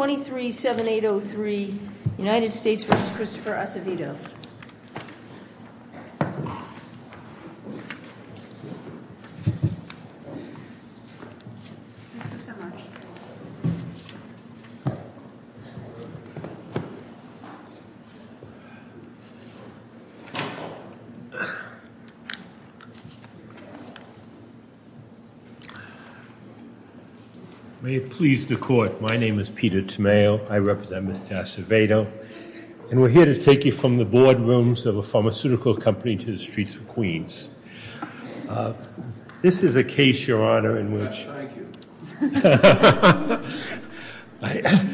23.7803 United States v. Christopher Acevedo May it please the Court, my name is Peter Tomeo, I represent Mr. Acevedo, and we're here to take you from the boardrooms of a pharmaceutical company to the streets of Queens. This is a case, Your Honor, in which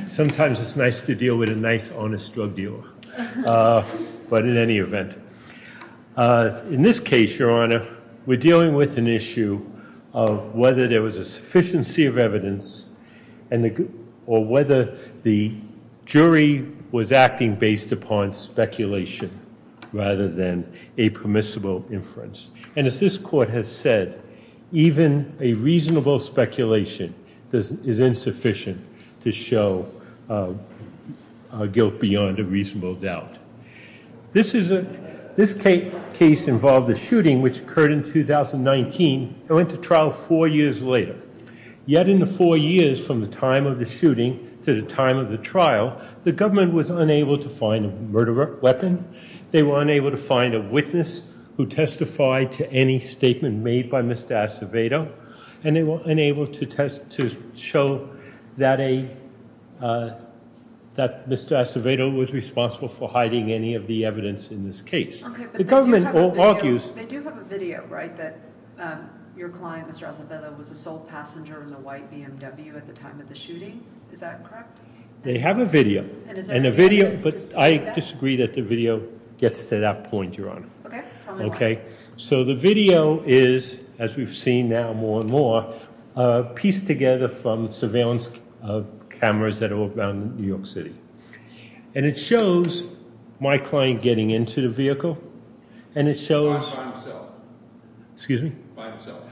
sometimes it's nice to deal with a nice, honest drug dealer, but in any event, in this case, Your Honor, we're dealing with an issue of whether there was a sufficiency of evidence, or whether the jury was acting based upon speculation rather than a permissible inference. And as this Court has said, even a reasonable speculation is insufficient to show a guilt beyond a reasonable doubt. This is a, this case involved a shooting which occurred in 2019 and went to trial four years later. Yet in the four years from the time of the shooting to the time of the trial, the government was unable to find a murder weapon, they were unable to find a witness who testified to any statement made by Mr. Acevedo, and they were unable to test, to show that a, that Mr. Acevedo was responsible for hiding any of the evidence in this case. The government argues- Okay, but they do have a video, right, that your client, Mr. Acevedo, was a sole passenger in a white BMW at the time of the shooting? Is that correct? They have a video. And a video- And is there any evidence to support that? But I disagree that the video gets to that point, Your Honor. Okay. Tell me why. Okay. So the video is, as we've seen now more and more, pieced together from surveillance cameras that are around New York City. And it shows my client getting into the vehicle, and it shows- By himself. Excuse me? By himself.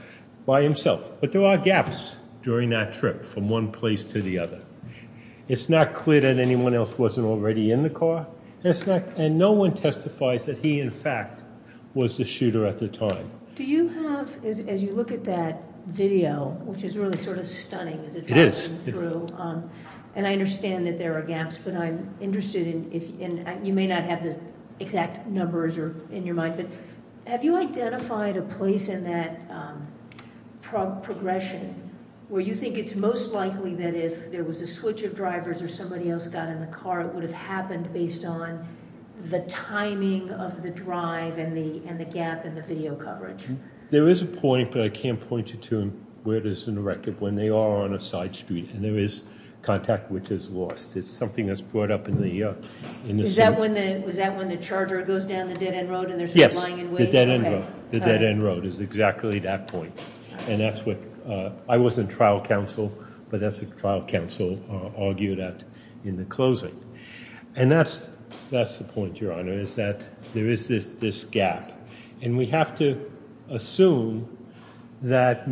By himself. But there are gaps during that trip, from one place to the other. It's not clear that anyone else wasn't already in the car, and no one testifies that he in fact was the shooter at the time. Do you have, as you look at that video, which is really sort of stunning as it passes through, and I understand that there are gaps, but I'm interested in, you may not have the exact numbers in your mind, but have you identified a place in that progression where you think it's most likely that if there was a switch of drivers or somebody else got in the car, it would have happened based on the timing of the drive and the gap in the video coverage? There is a point, but I can't point you to where it is in the record, when they are on a side street. And there is contact which is lost. It's something that's brought up in the- Is that when the charger goes down the dead end road and there's not lying in wait? Yes. The dead end road. The dead end road is exactly that point. And that's what, I wasn't trial counsel, but that's what trial counsel argued at in the closing. And that's the point, Your Honor, is that there is this gap. And we have to assume that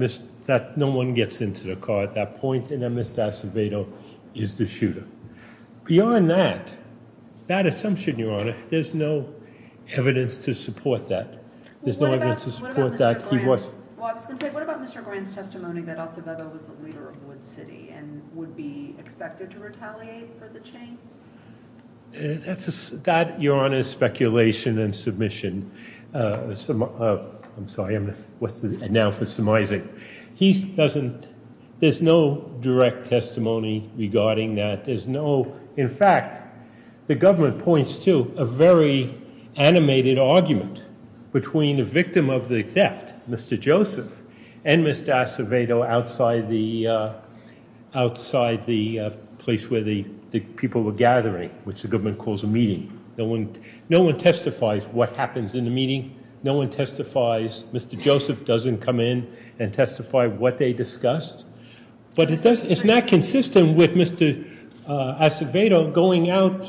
no one gets into the car at that point and that Mr. Acevedo is the shooter. Beyond that, that assumption, Your Honor, there's no evidence to support that. There's no evidence to support that he was- Well, I was going to say, what about Mr. Graham's testimony that Acevedo was the leader of Wood City and would be expected to retaliate for the chain? That, Your Honor, is speculation and submission. I'm sorry. I'm going to- What's the- And now for some- He doesn't- There's no direct testimony regarding that. There's no- In fact, the government points to a very animated argument between the victim of the theft, Mr. Joseph, and Mr. Acevedo outside the place where the people were gathering, which the government calls a meeting. No one testifies what happens in the meeting. No one testifies. Mr. Joseph doesn't come in and testify what they discussed. But it's not consistent with Mr. Acevedo going out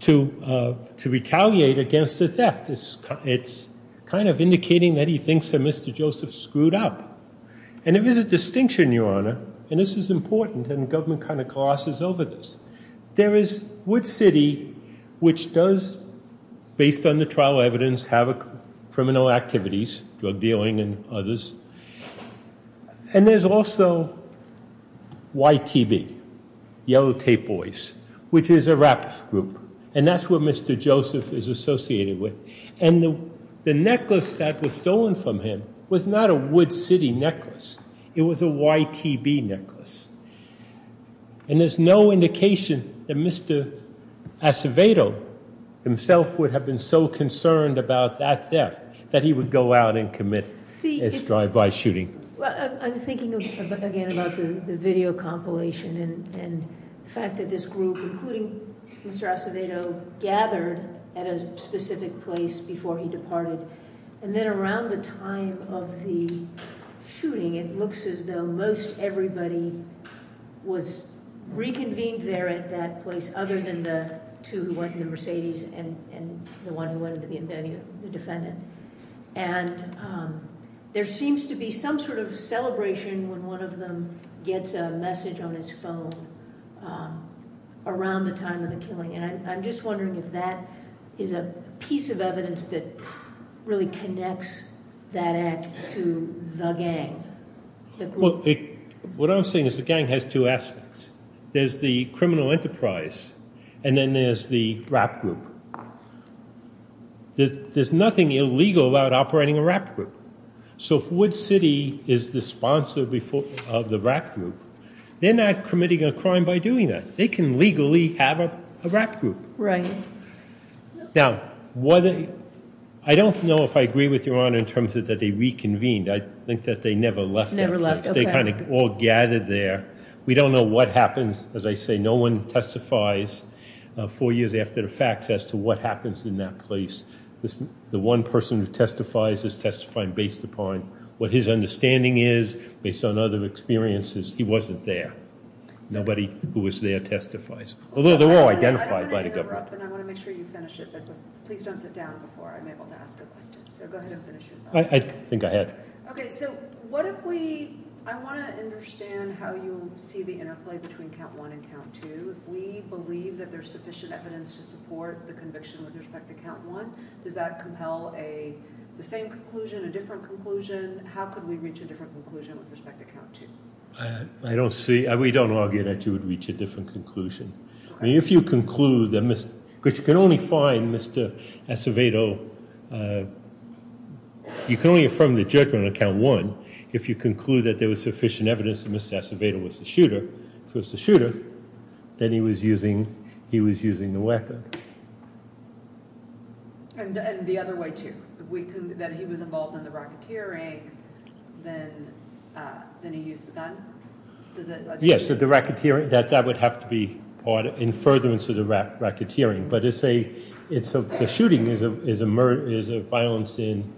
to retaliate against the theft. It's kind of indicating that he thinks that Mr. Joseph screwed up. And there is a distinction, Your Honor, and this is important, and the government kind of glosses over this. There is Wood City, which does, based on the trial evidence, have criminal activities, drug dealing and others. And there's also YTB, Yellow Tape Boys, which is a rap group. And that's what Mr. Joseph is associated with. And the necklace that was stolen from him was not a Wood City necklace. It was a YTB necklace. And there's no indication that Mr. Acevedo himself would have been so concerned about that theft that he would go out and commit and strive by shooting. Well, I'm thinking again about the video compilation and the fact that this group, including Mr. Acevedo, gathered at a specific place before he departed. And then around the time of the shooting, it looks as though most everybody was reconvened there at that place other than the two who went in the Mercedes and the one who went to the defendant. And there seems to be some sort of celebration when one of them gets a message on his phone around the time of the killing. And I'm just wondering if that is a piece of evidence that really connects that act to the gang. What I'm saying is the gang has two aspects. There's the criminal enterprise, and then there's the rap group. There's nothing illegal about operating a rap group. So if Wood City is the sponsor of the rap group, they're not committing a crime by doing that. They can legally have a rap group. Now, I don't know if I agree with Your Honor in terms of that they reconvened. I think that they never left that place. They kind of all gathered there. We don't know what happens. As I say, no one testifies four years after the facts as to what happens in that place. The one person who testifies is testifying based upon what his understanding is based on other experiences. He wasn't there. Nobody who was there testifies. Although they were all identified by the government. I don't want to interrupt, and I want to make sure you finish it. But please don't sit down before I'm able to ask a question. So go ahead and finish your thought. I think I had. So what if we – I want to understand how you see the interplay between Count 1 and Count 2. If we believe that there's sufficient evidence to support the conviction with respect to Count 1, does that compel the same conclusion, a different conclusion? How could we reach a different conclusion with respect to Count 2? I don't see – we don't argue that you would reach a different conclusion. Okay. I mean, if you conclude that – because you can only find Mr. Acevedo – you can only affirm the judgment on Count 1 if you conclude that there was sufficient evidence that Mr. Acevedo was the shooter. If he was the shooter, then he was using the weapon. And the other way, too? That he was involved in the racketeering, then he used the gun? Does that – Yes, the racketeering – that would have to be part – in furtherance of the racketeering. But it's a – the shooting is a violence in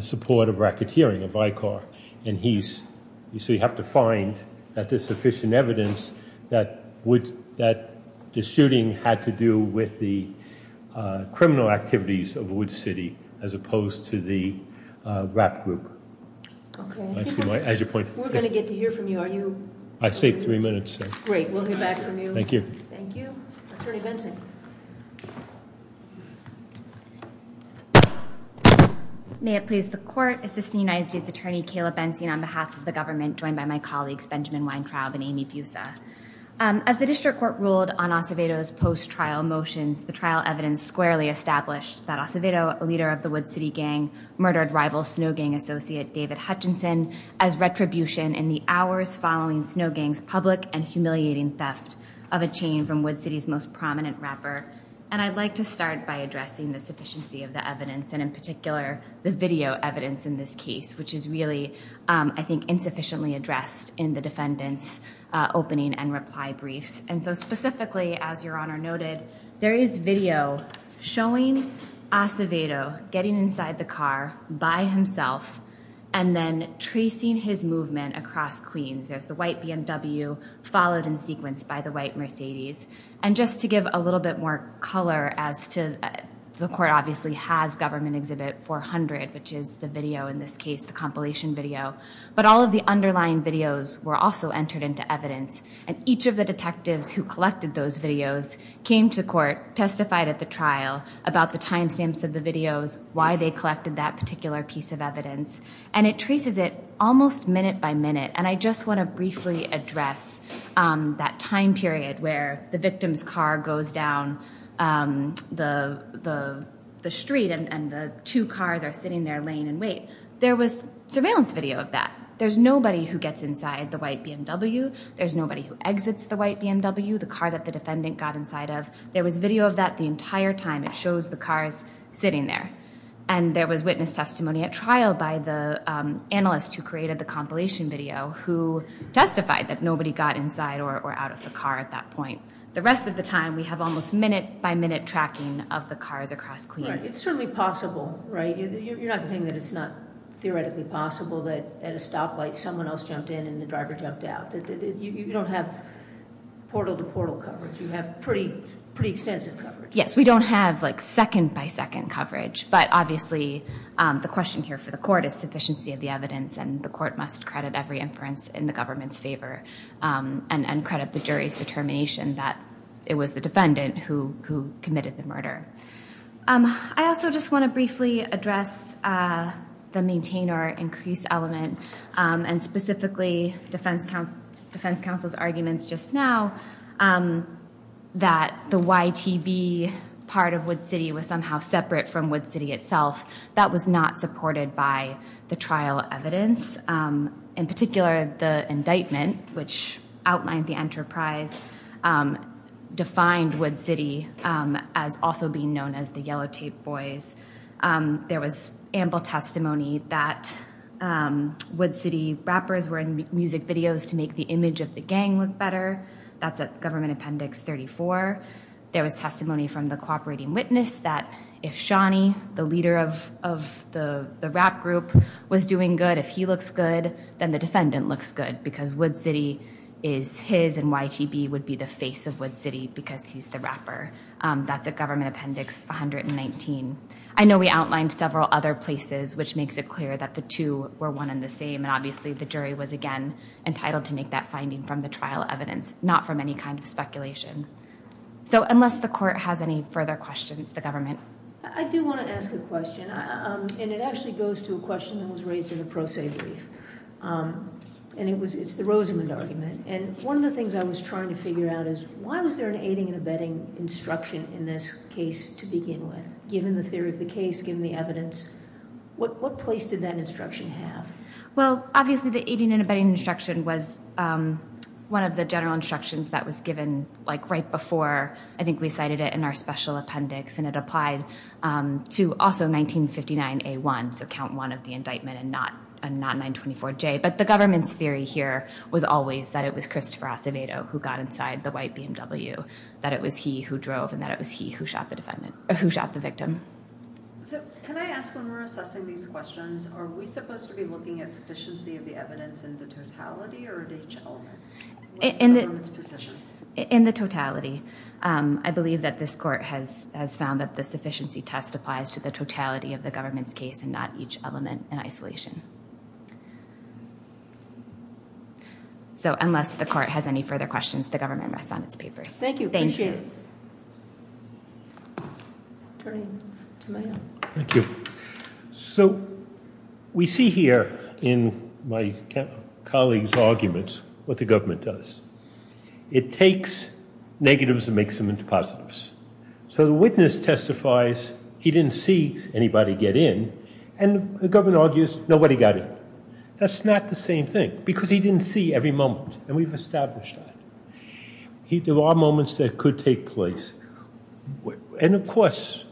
support of racketeering, of ICAR. And he's – so you have to find that there's sufficient evidence that would – that the shooting had to do with the criminal activities of Wood City as opposed to the rap group. Okay. As you point – We're going to get to hear from you. Are you – I think three minutes, sir. Great. We'll hear back from you. Thank you. Thank you. Attorney Benson. May it please the Court. Assistant United States Attorney Kayla Benson on behalf of the government joined by my colleagues Benjamin Weintraub and Amy Pusa. As the district court ruled on Acevedo's post-trial motions, the trial evidence squarely established that Acevedo, a leader of the Wood City gang, murdered rival Snow Gang associate David Hutchinson as retribution in the hours following Snow Gang's public and humiliating theft of a chain from Wood City's most prominent rapper. And I'd like to start by addressing the sufficiency of the evidence, and in particular the video evidence in this case, which is really, I think, insufficiently addressed in the defendant's opening and reply briefs. And so specifically, as Your Honor noted, there is video showing Acevedo getting inside the car by himself and then tracing his movement across Queens. There's the white BMW followed in sequence by the white Mercedes. And just to give a little bit more color as to the court obviously has government exhibit 400, which is the video in this case, the compilation video, but all of the underlying videos were also entered into evidence. And each of the detectives who collected those videos came to court, testified at the trial about the timestamps of the videos, why they collected that particular piece of evidence. And it traces it almost minute by minute. And I just want to briefly address that time period where the victim's car goes down the street and the two cars are sitting there laying in wait. There was surveillance video of that. There's nobody who gets inside the white BMW. There's nobody who exits the white BMW, the car that the defendant got inside of. There was video of that the entire time. It shows the cars sitting there. And there was witness testimony at trial by the analyst who created the compilation video who testified that nobody got inside or out of the car at that point. The rest of the time we have almost minute by minute tracking of the cars across Queens. It's certainly possible, right? You're not saying that it's not theoretically possible that at a stoplight someone else jumped in and the driver jumped out. You don't have portal to portal coverage. You have pretty extensive coverage. Yes, we don't have second by second coverage. But obviously the question here for the court is sufficiency of the evidence. And the court must credit every inference in the government's favor and credit the jury's determination that it was the defendant who committed the murder. I also just want to briefly address the maintain or increase element and specifically defense counsel's arguments just now. That the YTB part of Wood City was somehow separate from Wood City itself. That was not supported by the trial evidence. In particular, the indictment which outlined the enterprise defined Wood City as also being known as the Yellow Tape Boys. There was ample testimony that Wood City rappers were in music videos to make the image of the gang look better. That's at Government Appendix 34. There was testimony from the cooperating witness that if Shawnee, the leader of the rap group, was doing good, if he looks good, then the defendant looks good because Wood City is his and YTB would be the face of Wood City because he's the rapper. That's at Government Appendix 119. I know we outlined several other places which makes it clear that the two were one and the same. Obviously, the jury was again entitled to make that finding from the trial evidence, not from any kind of speculation. Unless the court has any further questions, the government. I do want to ask a question. It actually goes to a question that was raised in the pro se brief. It's the Rosamond argument. One of the things I was trying to figure out is why was there an aiding and abetting instruction in this case to begin with? Given the theory of the case, given the evidence, what place did that instruction have? Obviously, the aiding and abetting instruction was one of the general instructions that was given right before I think we cited it in our special appendix. It applied to also 1959A1, so count one of the indictment and not 924J. The government's theory here was always that it was Christopher Acevedo who got inside the white BMW, that it was he who drove and that it was he who shot the victim. Can I ask, when we're assessing these questions, are we supposed to be looking at sufficiency of the evidence in the totality or at each element? In the totality. I believe that this court has found that the sufficiency test applies to the totality of the government's case and not each element in isolation. Unless the court has any further questions, the government rests on its papers. Thank you. Thank you. So, we see here in my colleague's argument what the government does. It takes negatives and makes them into positives. So, the witness testifies he didn't see anybody get in and the government argues nobody got in. That's not the same thing because he didn't see every moment and we've established that. There are moments that could take place and of course,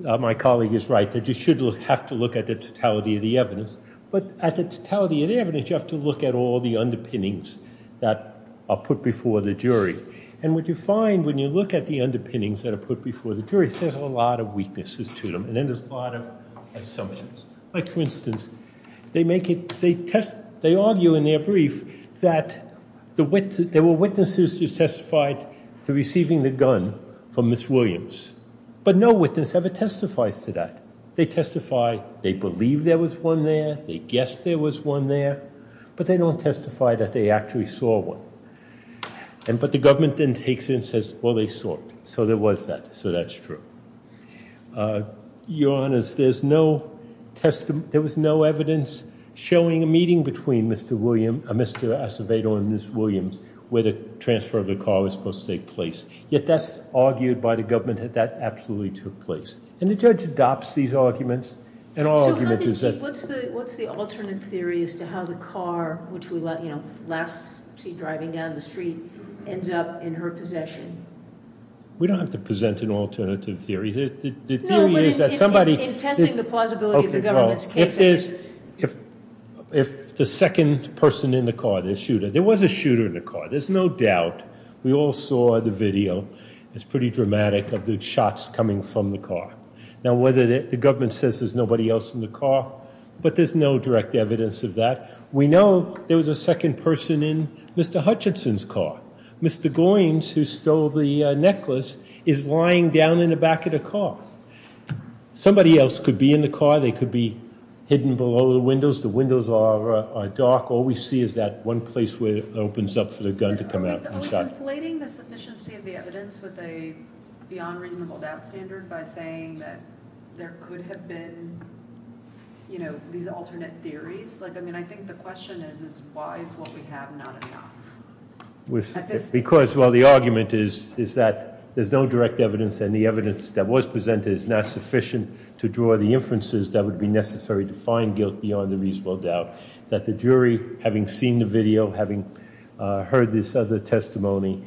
my colleague is right, that you should have to look at the totality of the evidence but at the totality of the evidence, you have to look at all the underpinnings that are put before the jury. And what you find when you look at the underpinnings that are put before the jury, there's a lot of weaknesses to them and then there's a lot of assumptions. Like, for instance, they make it, they test, they argue in their brief that there were witnesses who testified to receiving the gun from Ms. Williams but no witness ever testifies to that. They testify, they believe there was one there, they guess there was one there but they don't testify that they actually saw one. But the government then takes it and says, well, they saw it. So, there was that. So, that's true. Your Honours, there's no testimony, there was no evidence showing a meeting between Mr. Acevedo and Ms. Williams where the transfer of the car was supposed to take place. Yet, that's argued by the government that that absolutely took place. And the judge adopts these arguments and our argument is that... So, what's the alternate theory as to how the car, which we last see driving down the street, ends up in her possession? We don't have to present an alternative theory. The theory is that somebody... In testing the plausibility of the government's case... If the second person in the car, the shooter, there was a shooter in the car. There's no doubt. We all saw the video. It's pretty dramatic of the shots coming from the car. Now, whether the government says there's nobody else in the car, but there's no direct evidence of that. We know there was a second person in Mr. Hutchinson's car. Mr. Goines, who stole the necklace, is lying down in the back of the car. Somebody else could be in the car, they could be hidden below the windows. The windows are dark. All we see is that one place where it opens up for the gun to come out. Are we conflating the sufficiency of the evidence with a beyond reasonable doubt standard by saying that there could have been, you know, these alternate theories? Like, I mean, I think the question is, why is what we have not enough? Because, well, the argument is that there's no direct evidence and the evidence that was presented is not sufficient to draw the inferences that would be necessary to find guilt beyond a reasonable doubt. That the jury, having seen the video, having heard this other testimony,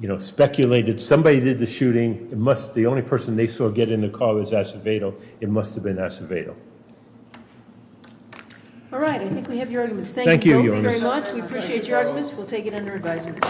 you know, speculated, somebody did the shooting, the only person they saw get in the car was Acevedo, it must have been Acevedo. All right, I think we have your arguments. Thank you both very much. We appreciate your arguments. We'll take it under advisement.